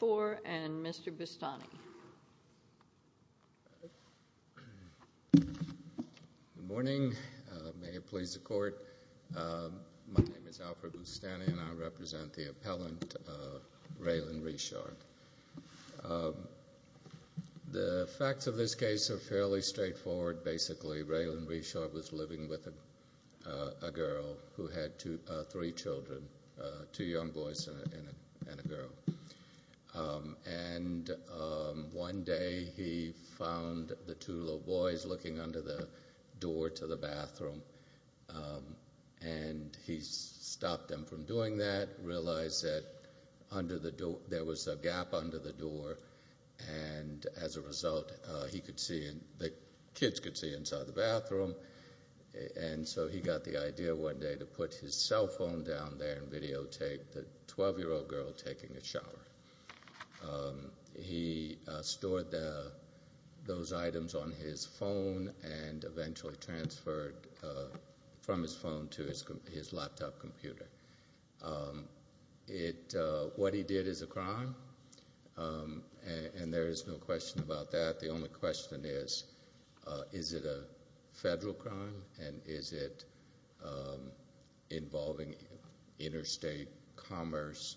The facts of this case are fairly straightforward, basically Raylin Richard was living with a girl who had three children, two young boys and a girl. And one day he found the two little boys looking under the door to the bathroom and he stopped them from doing that, realized that there was a gap under the door and as a result the kids could see inside the bathroom and so he got the idea one day to put his cell phone down there and videotape the 12-year-old girl taking a shower. He stored those items on his phone and eventually transferred from his phone to his laptop computer. What he did is a crime and there is no question about that, the only question is, is it a federal crime and is it involving interstate commerce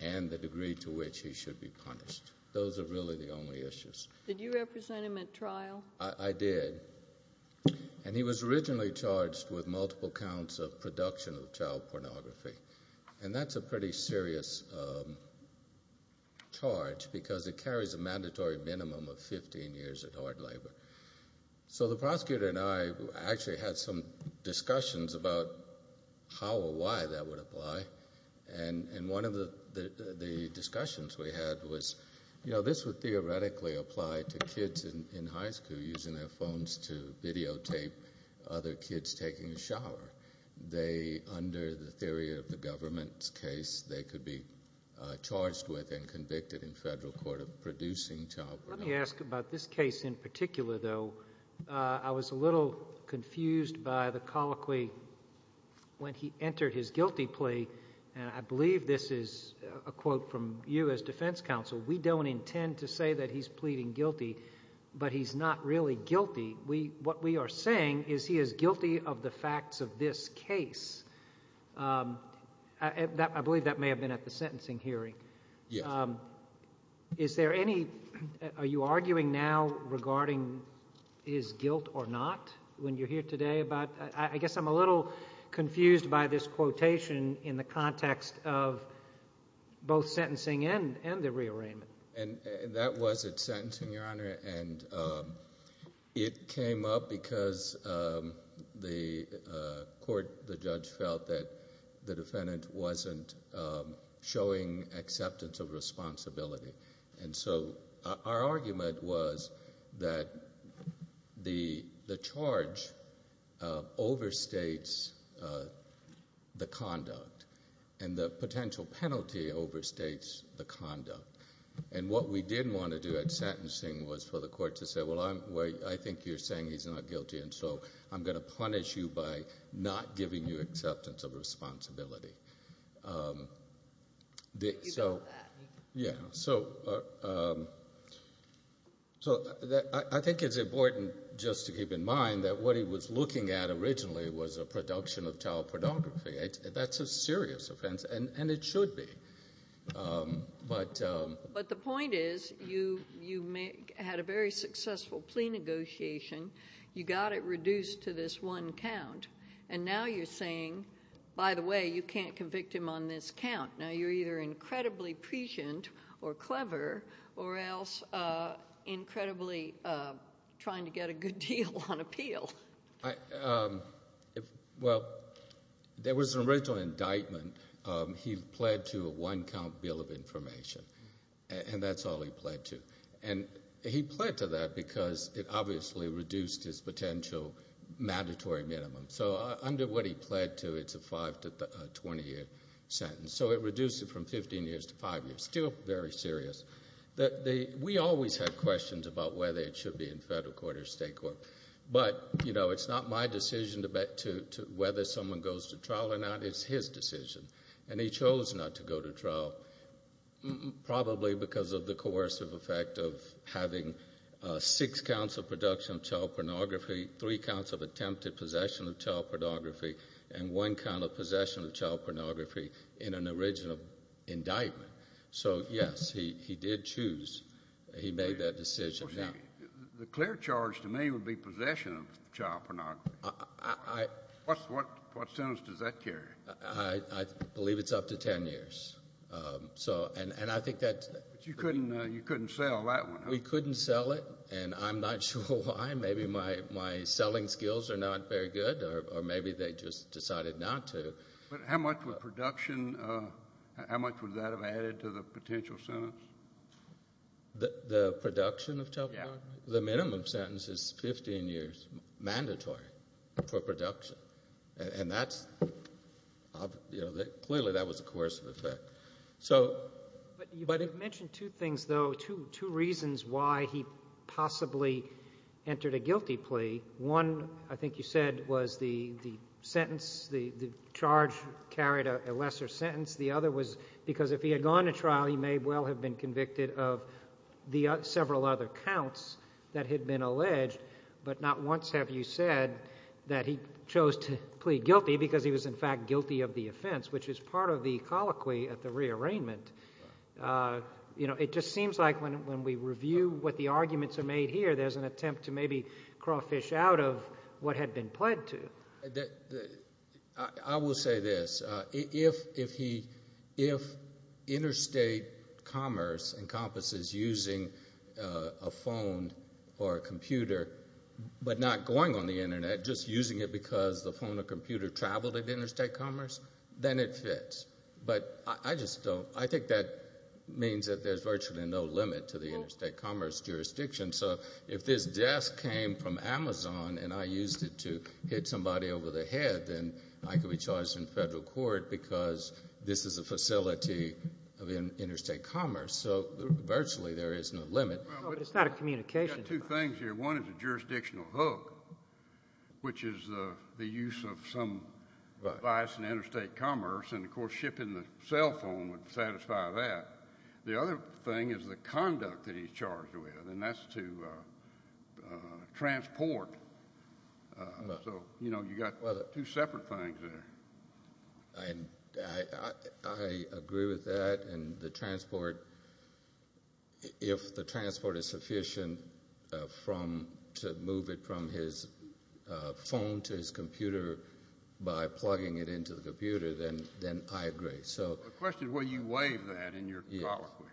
and the degree to which he should be punished. Those are really the only issues. Did you represent him at trial? I did and he was originally charged with multiple counts of production of child pornography and that's a pretty serious charge because it carries a mandatory minimum of 15 years of hard labor. So the prosecutor and I actually had some discussions about how or why that would apply and one of the discussions we had was, you know, this would theoretically apply to kids in high school using their phones to videotape other under the theory of the government's case, they could be charged with and convicted in federal court of producing child pornography. Let me ask about this case in particular though. I was a little confused by the colloquy when he entered his guilty plea and I believe this is a quote from you as defense counsel, we don't intend to say that he's pleading guilty but he's not really guilty. What we are saying is he is guilty of the facts of this case. I believe that may have been at the sentencing hearing. Yes. Is there any, are you arguing now regarding his guilt or not when you're here today? I guess I'm a little confused by this quotation in the context of both sentencing and the rearrangement. That was at sentencing, Your Honor, and it came up because the court, the judge felt that the defendant wasn't showing acceptance of responsibility and so our argument was that the charge overstates the conduct and the potential penalty overstates the conduct and what we did want to do at sentencing was for the court to say, well, I think you're saying he's not guilty and so I'm going to punish you by not giving you acceptance of responsibility. So, I think it's important just to keep in mind that what he was looking at originally was a production of child pornography. That's a serious offense and it should be. But the point is you had a very successful plea negotiation. You got it reduced to this one count and now you're saying, by the way, you can't convict him on this count. Now you're either incredibly or clever or else incredibly trying to get a good deal on appeal. Well, there was an original indictment. He pled to a one count bill of information and that's all he pled to and he pled to that because it obviously reduced his potential mandatory minimum. So under what he pled to, it's a five to 20 year sentence. So it reduced it from 15 years to five years. Still very serious. We always had questions about whether it should be in federal court or state court, but it's not my decision to whether someone goes to trial or not. It's his decision and he chose not to go to trial probably because of the coercive effect of having six counts of production of child pornography, three counts of attempted possession of child pornography, and one count of possession of child pornography in an original indictment. So yes, he did choose. He made that decision. The clear charge to me would be possession of child pornography. What sentence does that carry? I believe it's up to 10 years. But you couldn't sell that one, huh? We couldn't sell it and I'm not sure why. Maybe my selling skills are not very good or maybe they just decided not to. But how much would production, how much would that have added to the potential sentence? The production of child pornography? Yeah. The minimum sentence is 15 years mandatory for production and that's, you know, clearly that was a coercive effect. But you mentioned two things though, two reasons why he possibly entered a guilty plea. One, I think you said, was the sentence, the charge carried a lesser sentence. The other was because if he had gone to trial he may well have been convicted of the several other counts that had been alleged, but not once have you said that he chose to plea guilty because he was in fact guilty of the offense, which is part of the colloquy at the rearrangement. It just seems like when we review what the arguments are made here, there's an attempt to maybe crawl fish out of what had been pled to. I will say this. If interstate commerce encompasses using a phone or a computer but not going on the internet, just using it because the phone or computer traveled at interstate commerce, then it fits. But I just don't, I think that means that there's virtually no limit to the interstate commerce jurisdiction. So if this desk came from Amazon and I used it to hit somebody over the head, then I could be charged in federal court because this is a facility of interstate commerce. So virtually there is no limit. But it's not a communication. I've got two things here. One is a jurisdictional hook, which is the use of some device in interstate commerce, and of course shipping the cell phone would satisfy that. The other thing is the conduct that he's charged with, and that's to transport. So you've got two separate things there. I agree with that, and the transport, if the transport is sufficient to move it from his phone to his computer by plugging it into the computer, then I agree. The question is will you waive that in your colloquy?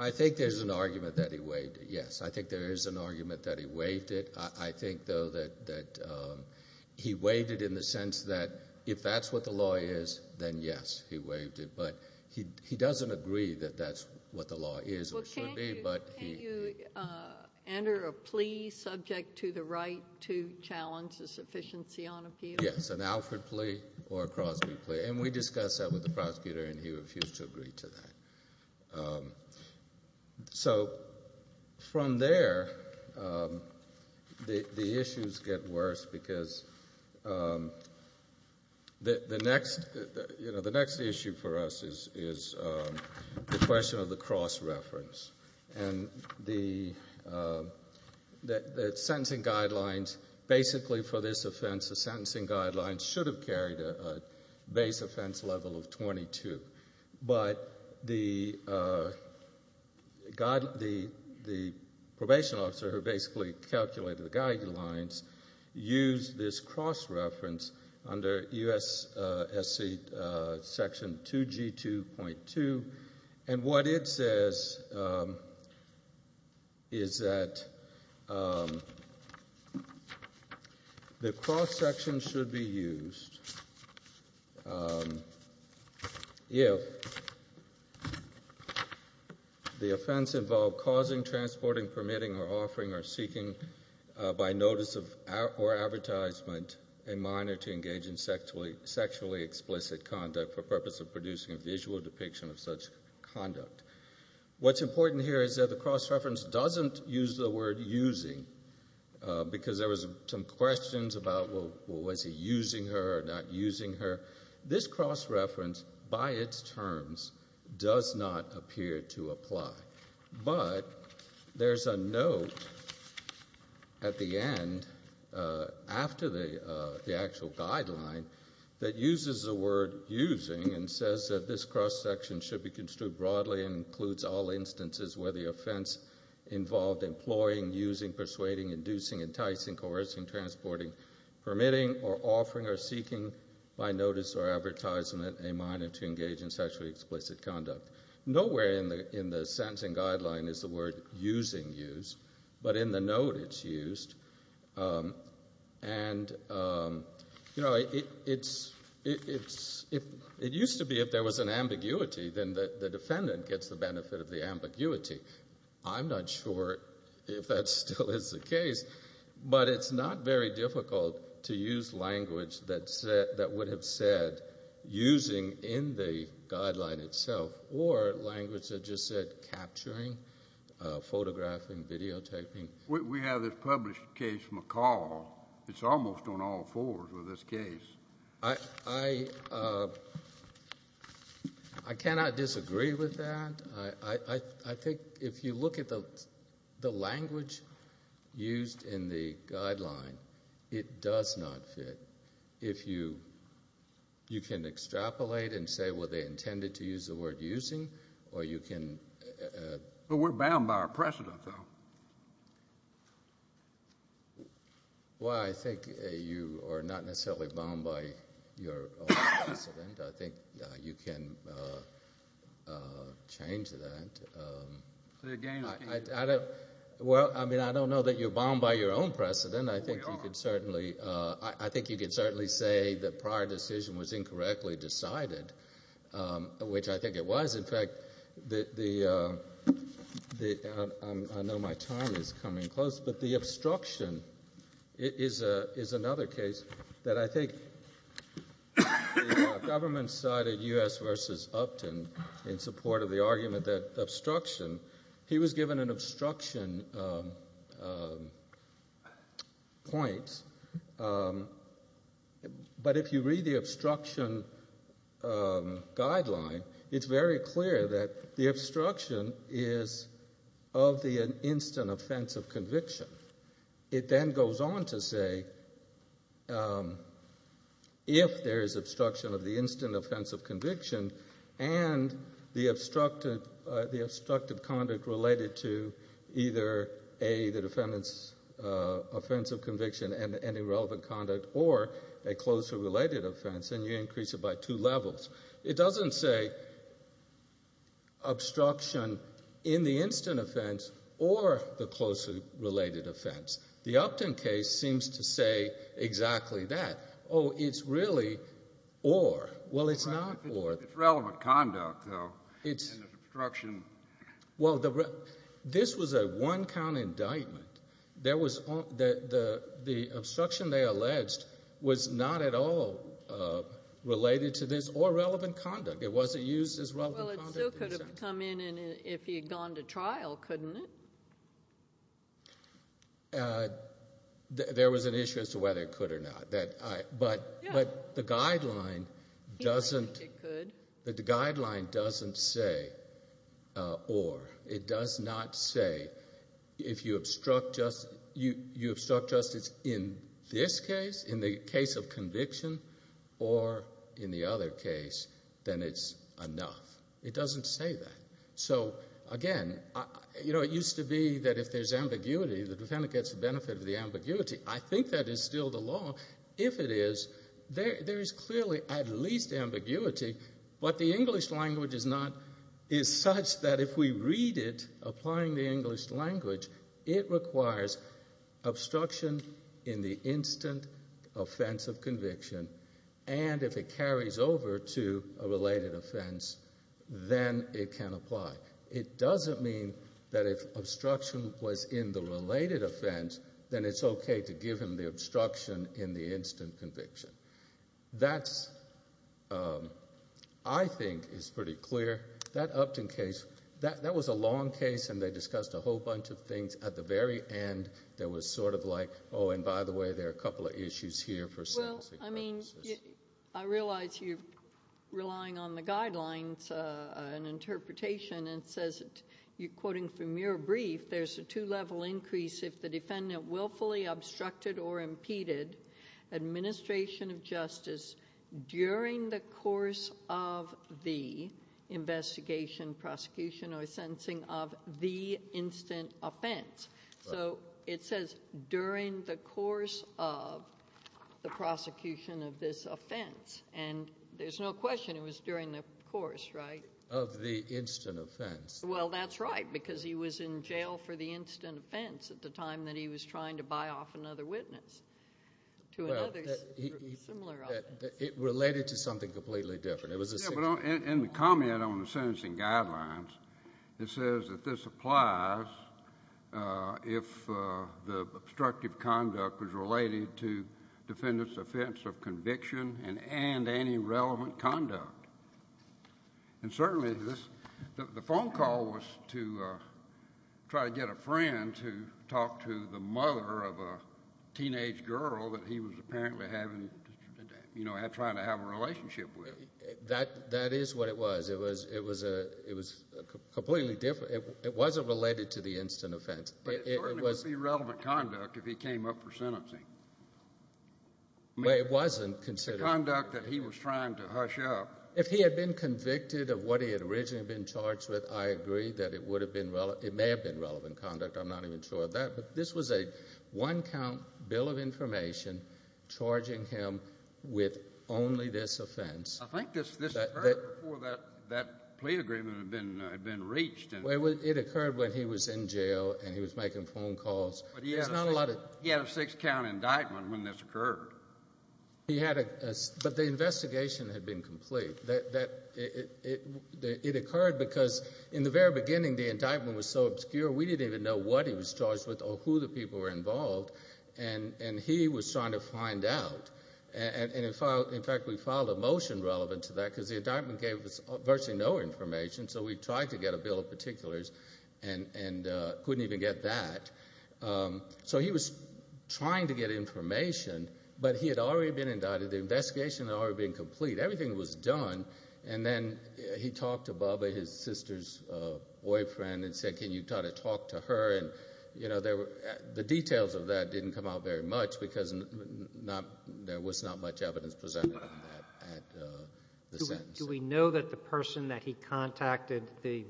I think there's an argument that he waived it, yes. I think there is an argument that he waived it. I think, though, that he waived it in the sense that if that's what the law is, then yes, he waived it. But he doesn't agree that that's what the law is or should be. Well, can't you enter a plea subject to the right to challenge the sufficiency on appeal? Yes, an Alfred plea or a Crosby plea, and we discussed that with the prosecutor and he refused to agree to that. So from there, the issues get worse because the next issue for us is the question of the cross-reference. And the sentencing guidelines, basically for this offense, the sentencing guidelines should have carried a base offense level of 22. But the probation officer who basically calculated the guidelines used this cross-reference section 2G2.2, and what it says is that the cross-section should be used if the offense involved causing, transporting, permitting, or offering or seeking by notice or advertisement a minor to engage in sexually explicit conduct for purpose of producing a visual depiction of such conduct. What's important here is that the cross-reference doesn't use the word using because there was some questions about was he using her or not using her. This cross-reference, by its terms, does not appear to apply. But there's a note at the end after the actual guideline that uses the word using and says that this cross-section should be construed broadly and includes all instances where the offense involved employing, using, persuading, inducing, enticing, coercing, transporting, permitting, or offering or seeking by notice or advertisement a minor to engage in sexually explicit conduct. Nowhere in the sentencing guideline is the word using used, but in the note it's used. It used to be if there was an ambiguity, then the defendant gets the benefit of the ambiguity. I'm not sure if that still is the case, but it's not very difficult to use language that would have said using in the guideline itself or language that just said capturing, photographing, videotaping. We have this published case from McCall. It's almost on all fours with this case. I cannot disagree with that. I think if you look at the language used in the guideline, it does not fit. If you can extrapolate and say, well, they intended to use the word using, or you can But we're bound by our precedent, though. Well, I think you are not necessarily bound by your precedent. I think you can change that. Well, I mean, I don't know that you're bound by your own precedent. I think you could certainly say the prior decision was incorrectly decided, which I think it was. In fact, I know my time is coming close, but the obstruction is another case that I think the government cited U.S. versus Upton in support of the argument that obstruction, he was given an obstruction point, but if you read the obstruction guideline, it's very clear that the obstruction is of the instant offense of conviction. It then goes on to say, if there is obstruction of the instant offense of conviction and the obstructive conduct related to either A, the defendant's offense of conviction and irrelevant conduct, or a closely related offense, and you increase it by two levels, it doesn't say obstruction in the instant offense or the closely related offense. The Upton case seems to say exactly that. Oh, it's really or. Well, it's not or. It's relevant conduct, though, and it's obstruction. Well, this was a one-count indictment. The obstruction they alleged was not at all related to this or relevant conduct. It wasn't used as relevant conduct. Well, it still could have come in if he had gone to trial, couldn't it? There was an issue as to whether it could or not, but the guideline doesn't say or. It does not say if you obstruct justice in this case, in the case of conviction, or in the other case, then it's enough. It doesn't say that. So, again, you know, it used to be that if there's ambiguity, the defendant gets the benefit of the ambiguity. I think that is still the law. If it is, there is clearly at least ambiguity, but the English language is such that if we read it, applying the English language, it requires obstruction in the instant offense of conviction, and if it carries over to a related offense, then it can apply. It doesn't mean that if obstruction was in the related offense, then it's okay to give him the obstruction in the instant conviction. That, I think, is pretty clear. That Upton case, that was a long case, and they discussed a whole bunch of things. At the very end, there was sort of like, oh, and by the way, there are a couple of issues here for sentencing purposes. Well, I mean, I realize you're relying on the guidelines, an interpretation, and it says, you're quoting from your brief, there's a two-level increase if the defendant willfully obstructed or impeded administration of justice during the course of the investigation, prosecution, or sentencing of the instant offense. So it says during the course of the prosecution of this offense, and there's no question it was during the course, right? Of the instant offense. Well, that's right, because he was in jail for the instant offense at the time that he was trying to buy off another witness. Well, it related to something completely different. In the comment on the sentencing guidelines, it says that this applies if the obstructive conduct was related to defendant's offense of conviction and any relevant conduct. And certainly the phone call was to try to get a friend to talk to the mother of a teenage girl that he was apparently trying to have a relationship with. That is what it was. It was completely different. It wasn't related to the instant offense. But it certainly would be relevant conduct if he came up for sentencing. Well, it wasn't considered. The conduct that he was trying to hush up. If he had been convicted of what he had originally been charged with, I agree that it may have been relevant conduct. I'm not even sure of that. But this was a one-count bill of information charging him with only this offense. I think this occurred before that plea agreement had been reached. It occurred when he was in jail and he was making phone calls. But he had a six-count indictment when this occurred. But the investigation had been complete. It occurred because in the very beginning the indictment was so obscure we didn't even know what he was charged with or who the people were involved. And he was trying to find out. And, in fact, we filed a motion relevant to that because the indictment gave us virtually no information. So we tried to get a bill of particulars and couldn't even get that. So he was trying to get information, but he had already been indicted. The investigation had already been complete. Everything was done. And then he talked to Bubba, his sister's boyfriend, and said, Can you try to talk to her? The details of that didn't come out very much because there was not much evidence presented in that sentence. Do we know that the person that he contacted, the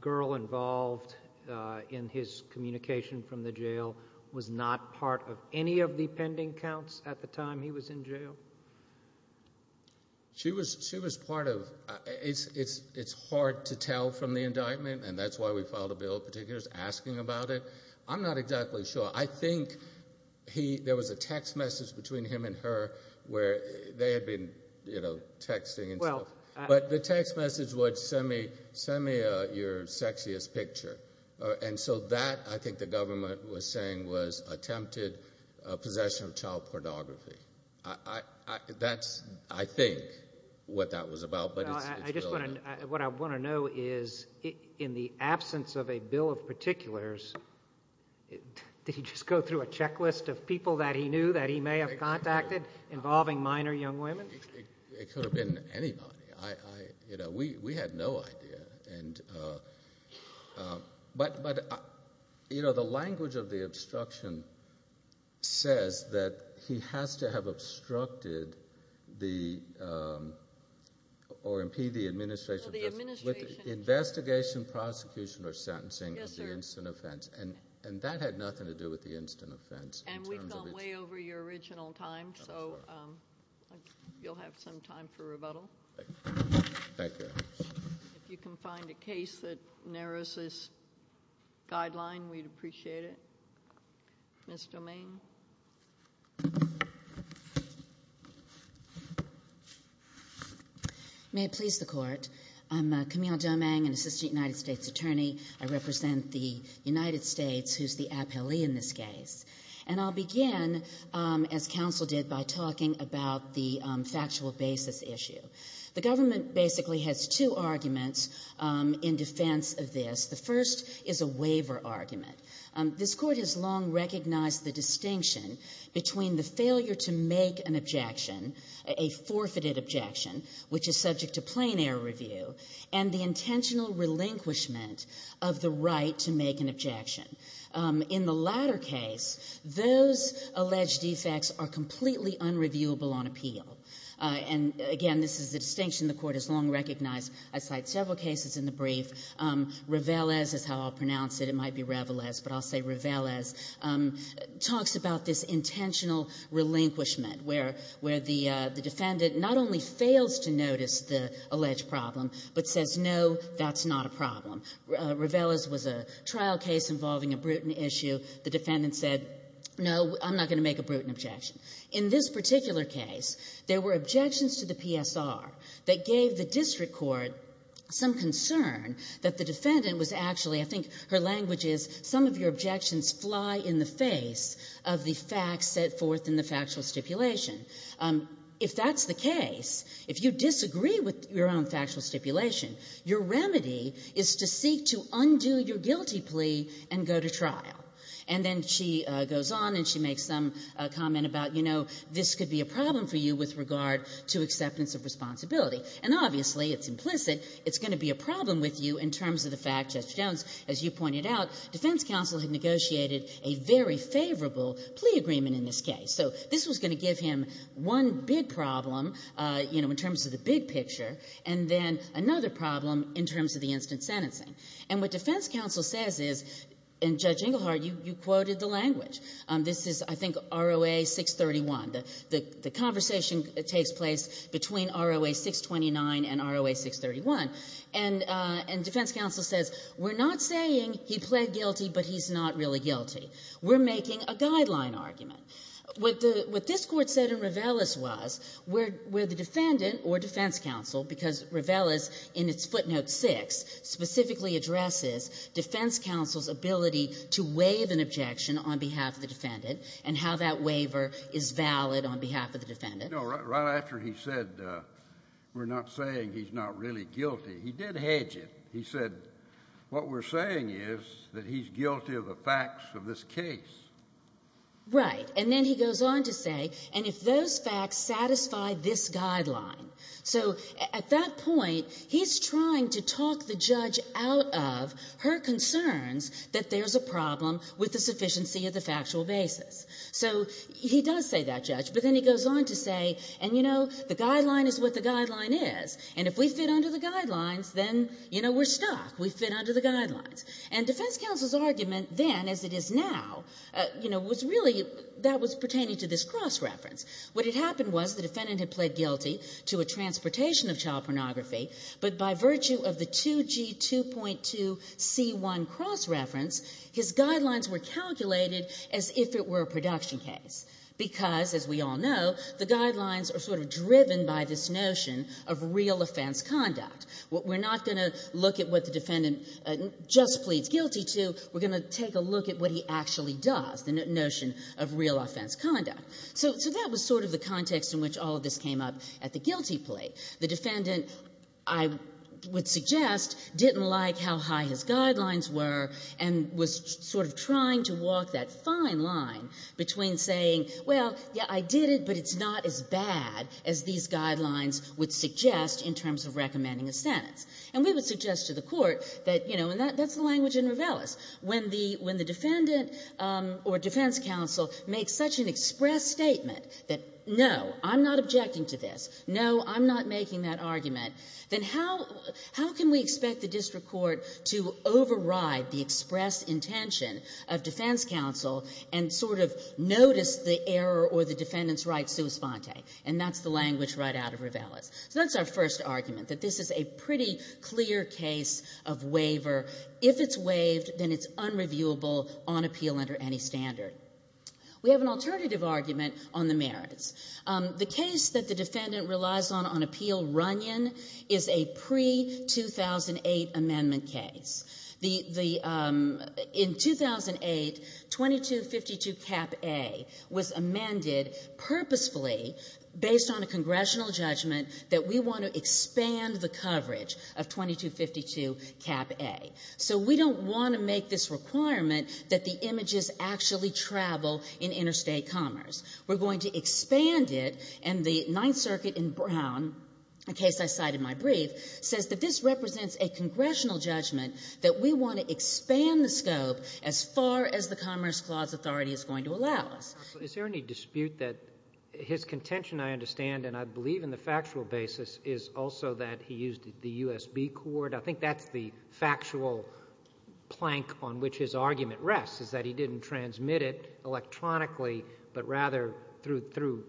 girl involved in his communication from the jail, was not part of any of the pending counts at the time he was in jail? She was part of it. It's hard to tell from the indictment, and that's why we filed a bill of particulars asking about it. I'm not exactly sure. I think there was a text message between him and her where they had been texting. But the text message was, Send me your sexiest picture. And so that, I think the government was saying, was attempted possession of child pornography. That's, I think, what that was about, but it's really not. What I want to know is, in the absence of a bill of particulars, did he just go through a checklist of people that he knew that he may have contacted involving minor young women? It could have been anybody. We had no idea. But the language of the obstruction says that he has to have obstructed or impeded the administration with investigation, prosecution, or sentencing of the instant offense, and that had nothing to do with the instant offense. And we've gone way over your original time, so you'll have some time for rebuttal. Thank you. If you can find a case that narrows this guideline, we'd appreciate it. Ms. Domingue. May it please the Court. I'm Camille Domingue, an Assistant United States Attorney. I represent the United States, who's the appellee in this case. And I'll begin, as counsel did, by talking about the factual basis issue. The government basically has two arguments in defense of this. The first is a waiver argument. This Court has long recognized the distinction between the failure to make an objection, a forfeited objection, which is subject to plain air review, and the intentional relinquishment of the right to make an objection. In the latter case, those alleged defects are completely unreviewable on appeal. And, again, this is the distinction the Court has long recognized. I cite several cases in the brief. Ravelez is how I'll pronounce it. It might be Ravelez, but I'll say Ravelez, talks about this intentional relinquishment, where the defendant not only fails to notice the alleged problem, but says, no, that's not a problem. Ravelez was a trial case involving a Bruton issue. The defendant said, no, I'm not going to make a Bruton objection. In this particular case, there were objections to the PSR that gave the district court some concern that the defendant was actually, I think her language is, some of your objections fly in the face of the facts set forth in the factual stipulation. If that's the case, if you disagree with your own factual stipulation, your remedy is to seek to undo your guilty plea and go to trial. And then she goes on and she makes some comment about, you know, this could be a problem for you with regard to acceptance of responsibility. And, obviously, it's implicit. It's going to be a problem with you in terms of the fact, Judge Jones, as you pointed out, defense counsel had negotiated a very favorable plea agreement in this case. So this was going to give him one big problem, you know, in terms of the big picture, and then another problem in terms of the instant sentencing. And what defense counsel says is, and, Judge Engelhardt, you quoted the language. This is, I think, ROA 631. The conversation takes place between ROA 629 and ROA 631. And defense counsel says, we're not saying he pled guilty, but he's not really guilty. We're making a guideline argument. What this Court said in Ravellis was where the defendant or defense counsel, because Ravellis in its footnote 6 specifically addresses defense counsel's ability to waive an objection on behalf of the defendant and how that waiver is valid on behalf of the defendant. No, right after he said, we're not saying he's not really guilty, he did hedge it. He said, what we're saying is that he's guilty of the facts of this case. Right. And then he goes on to say, and if those facts satisfy this guideline. So at that point, he's trying to talk the judge out of her concerns that there's a problem with the sufficiency of the factual basis. So he does say that, Judge. But then he goes on to say, and, you know, the guideline is what the guideline is. And if we fit under the guidelines, then, you know, we're stuck. We fit under the guidelines. And defense counsel's argument then, as it is now, you know, was really that was pertaining to this cross-reference. What had happened was the defendant had pled guilty to a transportation of child pornography, but by virtue of the 2G2.2C1 cross-reference, his guidelines were calculated as if it were a production case. Because, as we all know, the guidelines are sort of driven by this notion of real offense conduct. We're not going to look at what the defendant just pleads guilty to. We're going to take a look at what he actually does, the notion of real offense conduct. So that was sort of the context in which all of this came up at the guilty plea. The defendant, I would suggest, didn't like how high his guidelines were and was sort of trying to walk that fine line between saying, well, yeah, I did it, but it's not as bad as these guidelines would suggest in terms of recommending a sentence. And we would suggest to the Court that, you know, and that's the language in Ravellis. When the defendant or defense counsel makes such an express statement that, no, I'm not objecting to this, no, I'm not making that argument, then how can we expect the district court to override the express intention of defense counsel and sort of notice the error or the defendant's right sua sponte? And that's the language right out of Ravellis. So that's our first argument, that this is a pretty clear case of waiver. If it's waived, then it's unreviewable on appeal under any standard. We have an alternative argument on the merits. The case that the defendant relies on on appeal, Runyon, is a pre-2008 amendment case. The — in 2008, 2252 Cap A was amended purposefully based on a congressional judgment that we want to expand the coverage of 2252 Cap A. So we don't want to make this requirement that the images actually travel in interstate commerce. We're going to expand it. And the Ninth Circuit in Brown, a case I cited in my brief, says that this represents a congressional judgment that we want to expand the scope as far as the Commerce Clause authority is going to allow us. Is there any dispute that his contention, I understand, and I believe in the factual basis, is also that he used the USB cord? I think that's the factual plank on which his argument rests, is that he didn't transmit it electronically, but rather through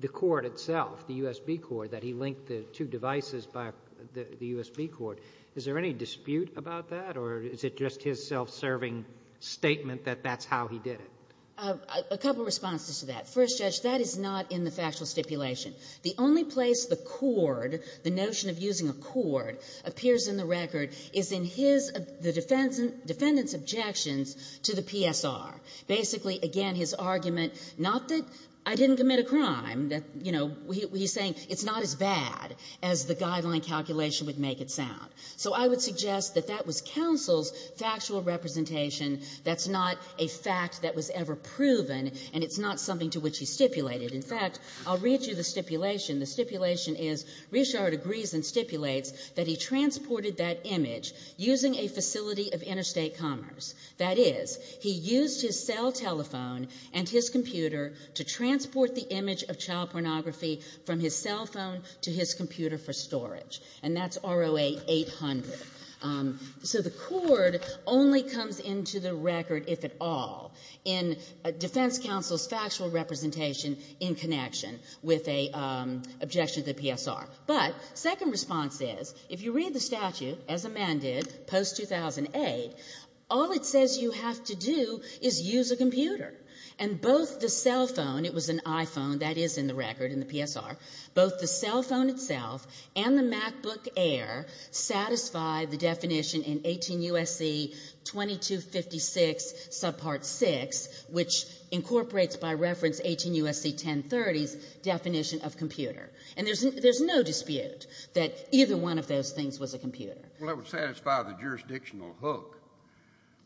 the cord itself, the USB cord, that he linked the two devices by the USB cord. Is there any dispute about that, or is it just his self-serving statement that that's how he did it? A couple of responses to that. First, Judge, that is not in the factual stipulation. The only place the cord, the notion of using a cord, appears in the record is in his — the defendant's objections to the PSR. Basically, again, his argument, not that I didn't commit a crime, that, you know, he's saying it's not as bad as the guideline calculation would make it sound. So I would suggest that that was counsel's factual representation. That's not a fact that was ever proven, and it's not something to which he stipulated. In fact, I'll read you the stipulation. The stipulation is, Reischardt agrees and stipulates that he transported that image using a facility of interstate commerce. That is, he used his cell telephone and his computer to transport the image of child pornography from his cell phone to his computer for storage. And that's ROA 800. So the cord only comes into the record, if at all, in defense counsel's factual representation in connection with an objection to the PSR. But second response is, if you read the statute, as amended post-2008, all it says you have to do is use a computer. And both the cell phone, it was an iPhone, that is in the record in the PSR, both the cell phone itself and the MacBook Air satisfy the definition in 18 U.S.C. 2256, subpart 6, which incorporates by reference 18 U.S.C. 1030's definition of computer. And there's no dispute that either one of those things was a computer. Well, that would satisfy the jurisdictional hook,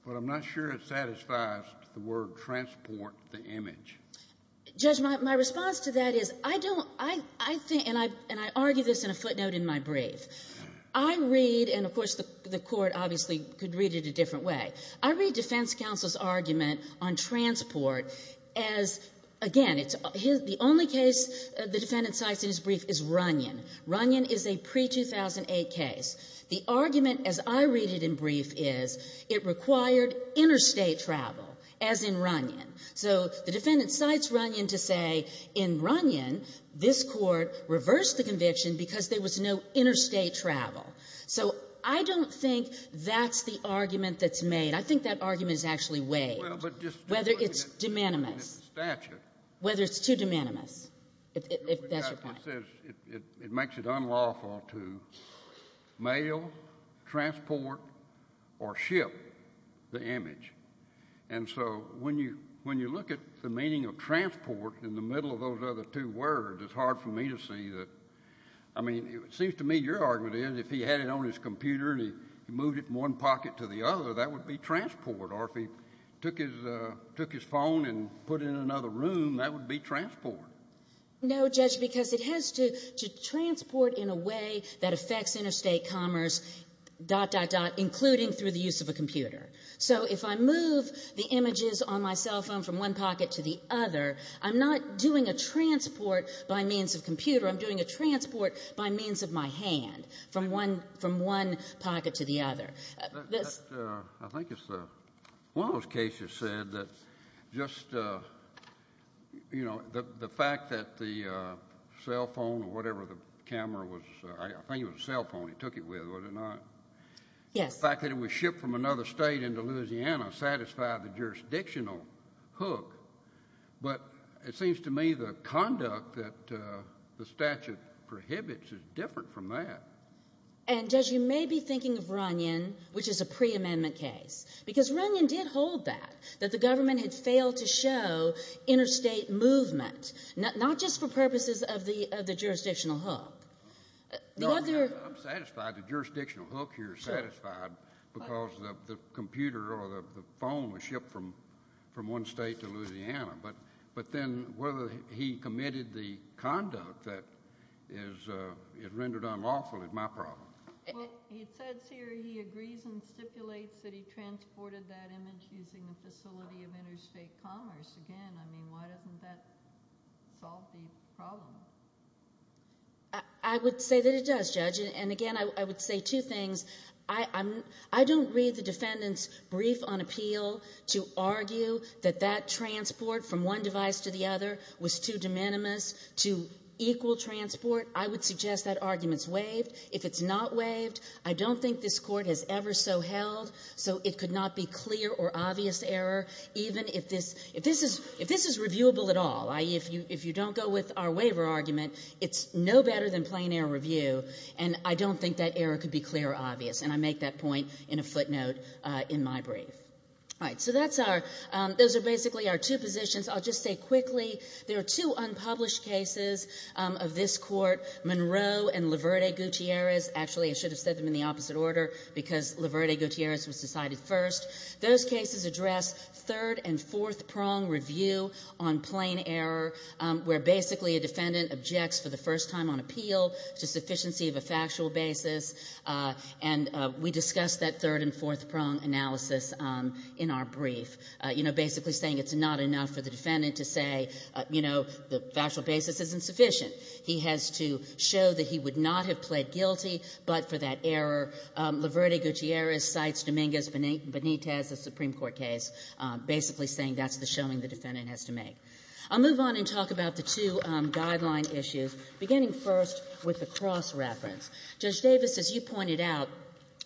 but I'm not sure it satisfies the word transport, the image. Judge, my response to that is I don't, I think, and I argue this in a footnote in my brief. I read, and of course the court obviously could read it a different way. I read defense counsel's argument on transport as, again, the only case the defendant cites in his brief is Runyon. Runyon is a pre-2008 case. The argument, as I read it in brief, is it required interstate travel, as in Runyon. So the defendant cites Runyon to say, in Runyon, this Court reversed the conviction because there was no interstate travel. So I don't think that's the argument that's made. I think that argument is actually waived, whether it's de minimis, whether it's too de minimis. It makes it unlawful to mail, transport, or ship the image. And so when you look at the meaning of transport in the middle of those other two words, it's hard for me to see that. I mean, it seems to me your argument is if he had it on his computer and he moved it from one pocket to the other, that would be transport. Or if he took his phone and put it in another room, that would be transport. No, Judge, because it has to transport in a way that affects interstate commerce, dot, dot, dot, including through the use of a computer. So if I move the images on my cell phone from one pocket to the other, I'm not doing a transport by means of computer. I'm doing a transport by means of my hand from one pocket to the other. I think one of those cases said that just, you know, the fact that the cell phone or whatever the camera was, I think it was a cell phone he took it with, was it not? Yes. The fact that it was shipped from another state into Louisiana satisfied the jurisdictional hook. But it seems to me the conduct that the statute prohibits is different from that. And, Judge, you may be thinking of Runyon, which is a preamendment case, because Runyon did hold that, that the government had failed to show interstate movement, not just for purposes of the jurisdictional hook. I'm satisfied the jurisdictional hook here is satisfied because the computer or the phone was shipped from one state to Louisiana. But then whether he committed the conduct that is rendered unlawful is my problem. Well, it says here he agrees and stipulates that he transported that image using the facility of interstate commerce. Again, I mean, why doesn't that solve the problem? I would say that it does, Judge. And, again, I would say two things. I don't read the defendant's brief on appeal to argue that that transport from one device to the other was too de minimis to equal transport. I would suggest that argument's waived. If it's not waived, I don't think this Court has ever so held so it could not be clear or obvious error, even if this is reviewable at all. If you don't go with our waiver argument, it's no better than plain error review, and I don't think that error could be clear or obvious. And I make that point in a footnote in my brief. All right. So that's our – those are basically our two positions. I'll just say quickly there are two unpublished cases of this Court, Monroe and Laverde-Gutierrez. Actually, I should have said them in the opposite order because Laverde-Gutierrez was decided first. Those cases address third- and fourth-prong review on plain error, where basically a defendant objects for the first time on appeal to sufficiency of a factual basis. And we discussed that third- and fourth-prong analysis in our brief, you know, basically saying it's not enough for the defendant to say, you know, the factual basis isn't sufficient. He has to show that he would not have pled guilty but for that error. Laverde-Gutierrez cites Dominguez-Benitez, a Supreme Court case, basically saying that's the showing the defendant has to make. I'll move on and talk about the two guideline issues, beginning first with the cross-reference. Judge Davis, as you pointed out,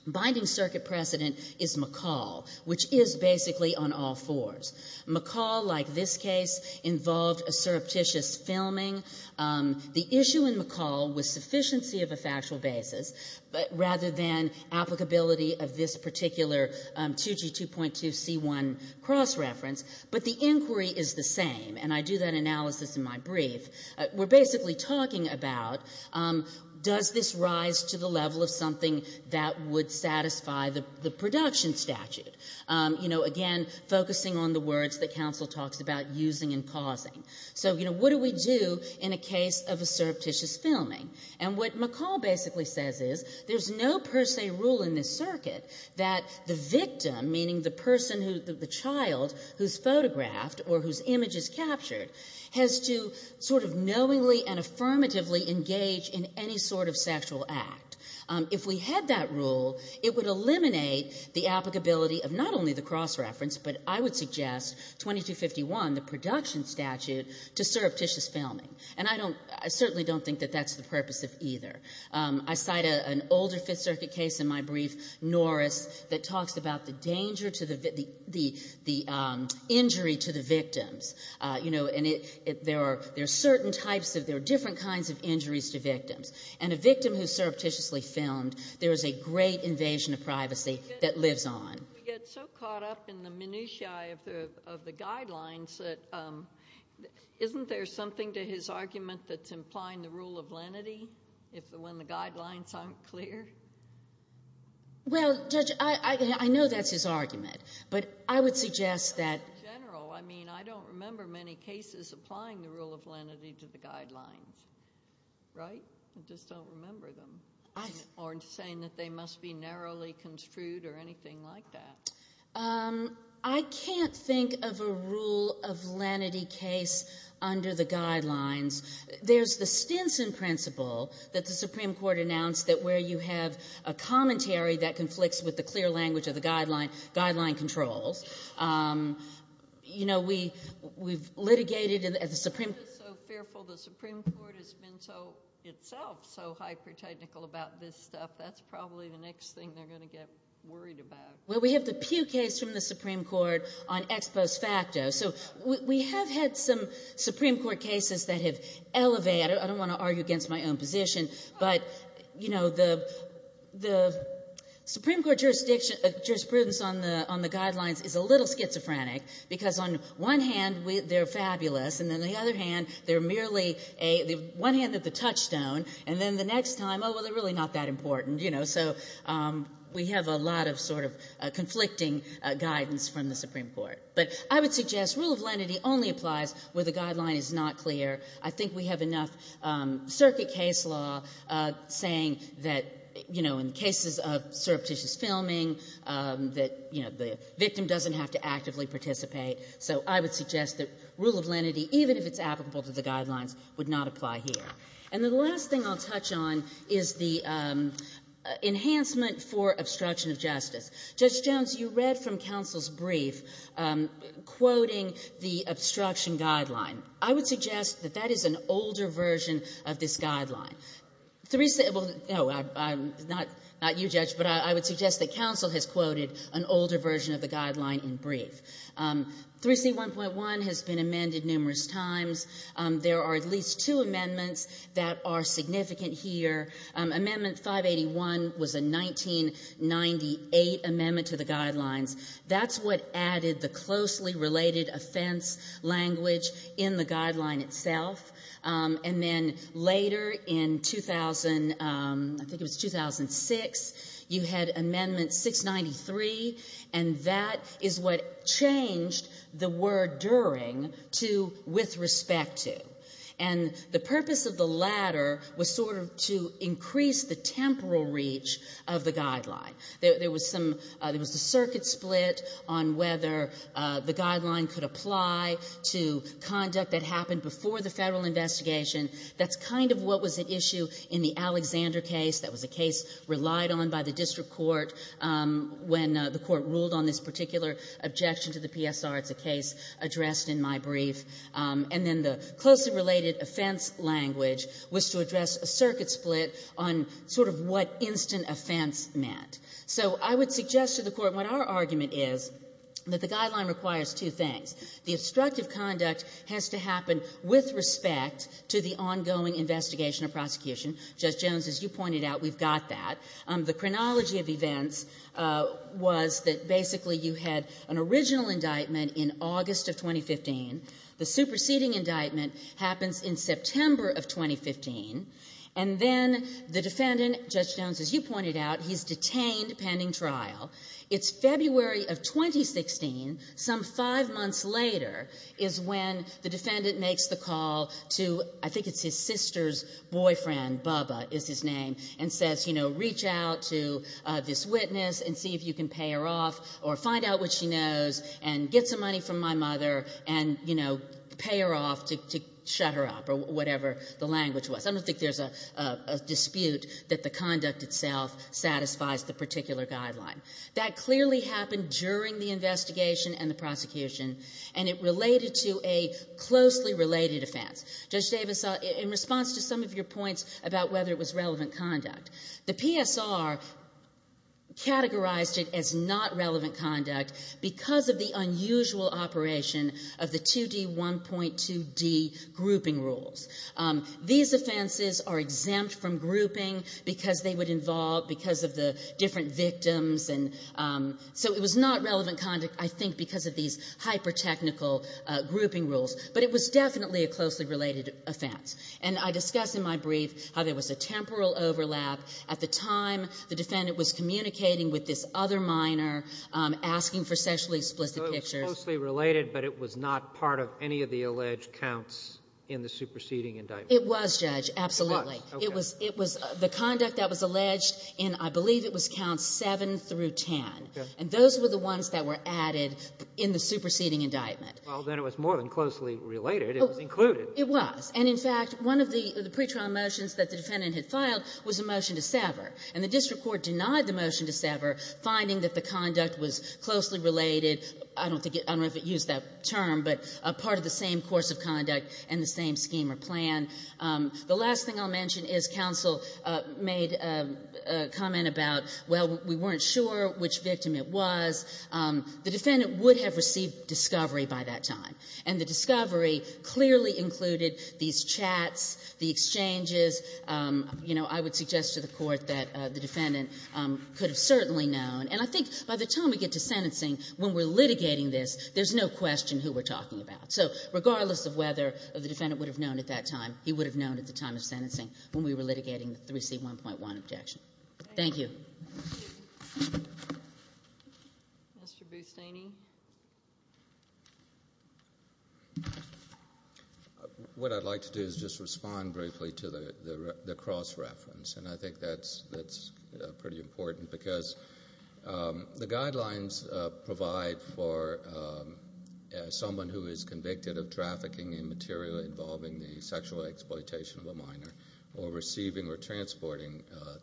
binding circuit precedent is McCall, which is basically on all fours. McCall, like this case, involved a surreptitious filming. The issue in McCall was sufficiency of a factual basis rather than applicability of this particular 2G2.2C1 cross-reference. But the inquiry is the same, and I do that analysis in my brief. We're basically talking about does this rise to the level of something that would satisfy the production statute, you know, again, focusing on the words that counsel talks about using and causing. So, you know, what do we do in a case of a surreptitious filming? And what McCall basically says is there's no per se rule in this circuit that the victim, meaning the person who the child who's photographed or whose image is captured, has to sort of knowingly and affirmatively engage in any sort of sexual act. If we had that rule, it would eliminate the applicability of not only the cross-reference, but I would suggest 2251, the production statute, to surreptitious filming. And I don't – I certainly don't think that that's the purpose of either. I cite an older Fifth Circuit case in my brief, Norris, that talks about the danger to the – the injury to the victims. You know, and there are certain types of – there are different kinds of injuries to victims. And a victim who's surreptitiously filmed, there is a great invasion of privacy that lives on. We get so caught up in the minutiae of the guidelines that isn't there something to his argument that's implying the rule of lenity when the guidelines aren't clear? Well, Judge, I know that's his argument. But I would suggest that – In general, I mean, I don't remember many cases applying the rule of lenity to the guidelines. Right? I just don't remember them. Or saying that they must be narrowly construed or anything like that. I can't think of a rule of lenity case under the guidelines. There's the Stinson principle that the Supreme Court announced that where you have a commentary that conflicts with the clear language of the guideline, guideline controls. You know, we've litigated at the Supreme – So fearful the Supreme Court has been so – itself so hypertechnical about this stuff. That's probably the next thing they're going to get worried about. Well, we have the Pew case from the Supreme Court on ex post facto. So we have had some Supreme Court cases that have elevated – I don't want to argue against my own position. But, you know, the Supreme Court jurisprudence on the guidelines is a little schizophrenic because on one hand, they're fabulous. And on the other hand, they're merely a – one hand at the touchstone. And then the next time, oh, well, they're really not that important. You know, so we have a lot of sort of conflicting guidance from the Supreme Court. But I would suggest rule of lenity only applies where the guideline is not clear. I think we have enough circuit case law saying that, you know, in cases of surreptitious filming that, you know, the victim doesn't have to actively participate. So I would suggest that rule of lenity, even if it's applicable to the guidelines, would not apply here. And the last thing I'll touch on is the enhancement for obstruction of justice. Judge Jones, you read from counsel's brief quoting the obstruction guideline. I would suggest that that is an older version of this guideline. Well, no, not you, Judge, but I would suggest that counsel has quoted an older version of the guideline in brief. 3C1.1 has been amended numerous times. There are at least two amendments that are significant here. Amendment 581 was a 1998 amendment to the guidelines. That's what added the closely related offense language in the guideline itself. And then later in 2000, I think it was 2006, you had Amendment 693, and that is what changed the word during to with respect to. And the purpose of the latter was sort of to increase the temporal reach of the guideline. There was the circuit split on whether the guideline could apply to conduct that happened before the federal investigation. That's kind of what was at issue in the Alexander case. That was a case relied on by the district court when the court ruled on this particular objection to the PSR. It's a case addressed in my brief. And then the closely related offense language was to address a circuit split on sort of what instant offense meant. So I would suggest to the Court what our argument is, that the guideline requires two things. The obstructive conduct has to happen with respect to the ongoing investigation of prosecution. Judge Jones, as you pointed out, we've got that. The chronology of events was that basically you had an original indictment in August of 2015. The superseding indictment happens in September of 2015. And then the defendant, Judge Jones, as you pointed out, he's detained pending trial. It's February of 2016, some five months later, is when the defendant makes the call to I think it's his sister's boyfriend, Bubba is his name, and says, you know, reach out to this witness and see if you can pay her off or find out what she knows and get some money from my mother and, you know, pay her off to shut her up or whatever the language was. I don't think there's a dispute that the conduct itself satisfies the particular guideline. That clearly happened during the investigation and the prosecution, and it related to a closely related offense. Judge Davis, in response to some of your points about whether it was relevant conduct, the PSR categorized it as not relevant conduct because of the unusual operation of the 2D1.2D grouping rules. These offenses are exempt from grouping because they would involve, because of the different victims, and so it was not relevant conduct, I think, because of these hypertechnical grouping rules. But it was definitely a closely related offense. And I discussed in my brief how there was a temporal overlap. At the time, the defendant was communicating with this other minor, asking for sexually explicit pictures. So it was closely related, but it was not part of any of the alleged counts in the superseding indictment. It was, Judge, absolutely. It was. Okay. It was the conduct that was alleged in, I believe it was Counts 7 through 10. And those were the ones that were added in the superseding indictment. Well, then it was more than closely related. It was included. It was. And, in fact, one of the pretrial motions that the defendant had filed was a motion to sever. And the district court denied the motion to sever, finding that the conduct was closely related. I don't think it used that term, but part of the same course of conduct and the same scheme or plan. The last thing I'll mention is counsel made a comment about, well, we weren't sure which victim it was. The defendant would have received discovery by that time. And the discovery clearly included these chats, the exchanges. You know, I would suggest to the Court that the defendant could have certainly known. And I think by the time we get to sentencing, when we're litigating this, there's no question who we're talking about. So regardless of whether the defendant would have known at that time, he would have known at the time of sentencing when we were litigating the 3C1.1 objection. Thank you. Thank you. Mr. Bustane? What I'd like to do is just respond briefly to the cross-reference. And I think that's pretty important because the guidelines provide for someone who is convicted of trafficking in material involving the sexual exploitation of a minor or receiving or transporting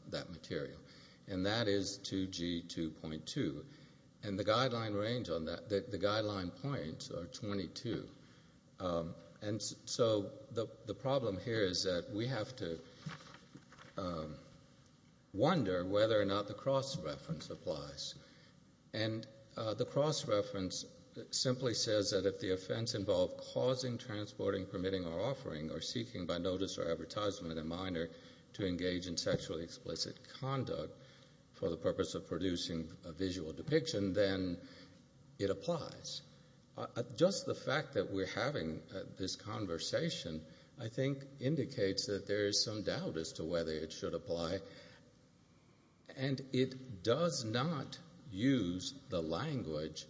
that material. And that is 2G2.2. And the guideline range on that, the guideline points are 22. And so the problem here is that we have to wonder whether or not the cross-reference applies. And the cross-reference simply says that if the offense involved causing, transporting, permitting or offering or seeking by notice or advertisement a minor to engage in sexually explicit conduct for the purpose of producing a visual depiction, then it applies. Just the fact that we're having this conversation, I think, indicates that there is some doubt as to whether it should apply. And it does not use the language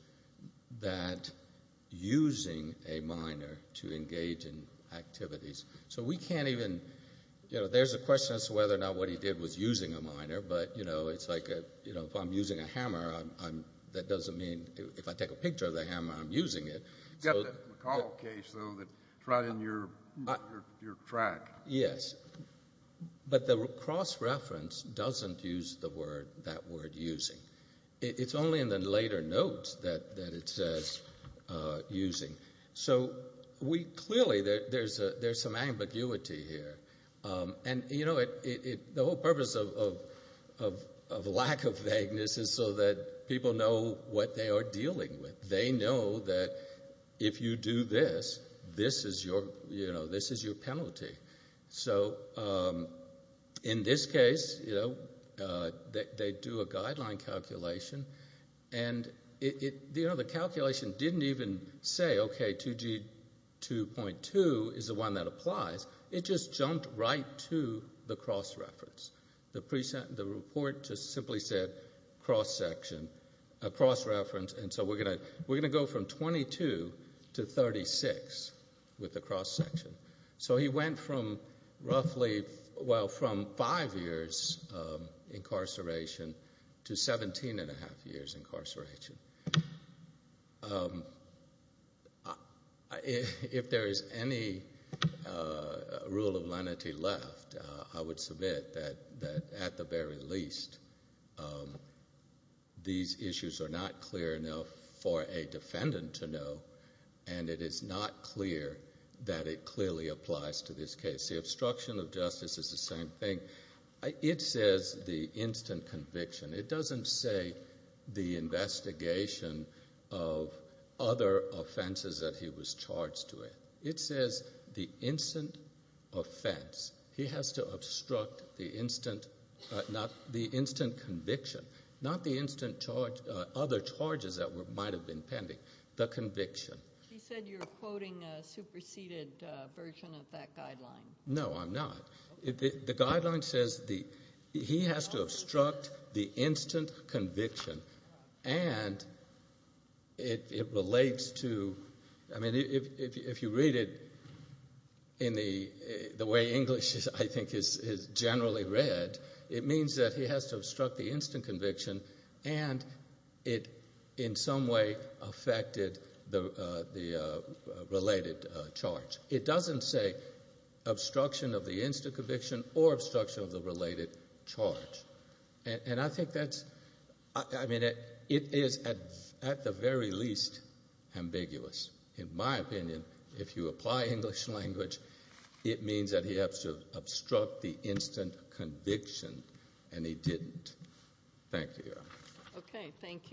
that using a minor to engage in activities. So we can't even, you know, there's a question as to whether or not what he did was using a minor. But, you know, it's like if I'm using a hammer, that doesn't mean if I take a picture of the hammer, I'm using it. You've got the McConnell case, though, that's right in your track. Yes. But the cross-reference doesn't use that word using. It's only in the later notes that it says using. So clearly there's some ambiguity here. And, you know, the whole purpose of lack of vagueness is so that people know what they are dealing with. They know that if you do this, this is your penalty. So in this case, you know, they do a guideline calculation. And, you know, the calculation didn't even say, okay, 2G2.2 is the one that applies. It just jumped right to the cross-reference. The report just simply said cross-reference. And so we're going to go from 22 to 36 with the cross-section. So he went from roughly, well, from five years incarceration to 17 and a half years incarceration. If there is any rule of lenity left, I would submit that at the very least these issues are not clear enough for a defendant to know, and it is not clear that it clearly applies to this case. The obstruction of justice is the same thing. It says the instant conviction. It doesn't say the investigation of other offenses that he was charged with. It says the instant offense. He has to obstruct the instant conviction, not the other charges that might have been pending, the conviction. She said you're quoting a superseded version of that guideline. No, I'm not. The guideline says he has to obstruct the instant conviction. And it relates to, I mean, if you read it in the way English, I think, is generally read, it means that he has to obstruct the instant conviction, and it in some way affected the related charge. It doesn't say obstruction of the instant conviction or obstruction of the related charge. And I think that's, I mean, it is at the very least ambiguous. In my opinion, if you apply English language, it means that he has to obstruct the instant conviction, and he didn't. Thank you. Okay. Thank you.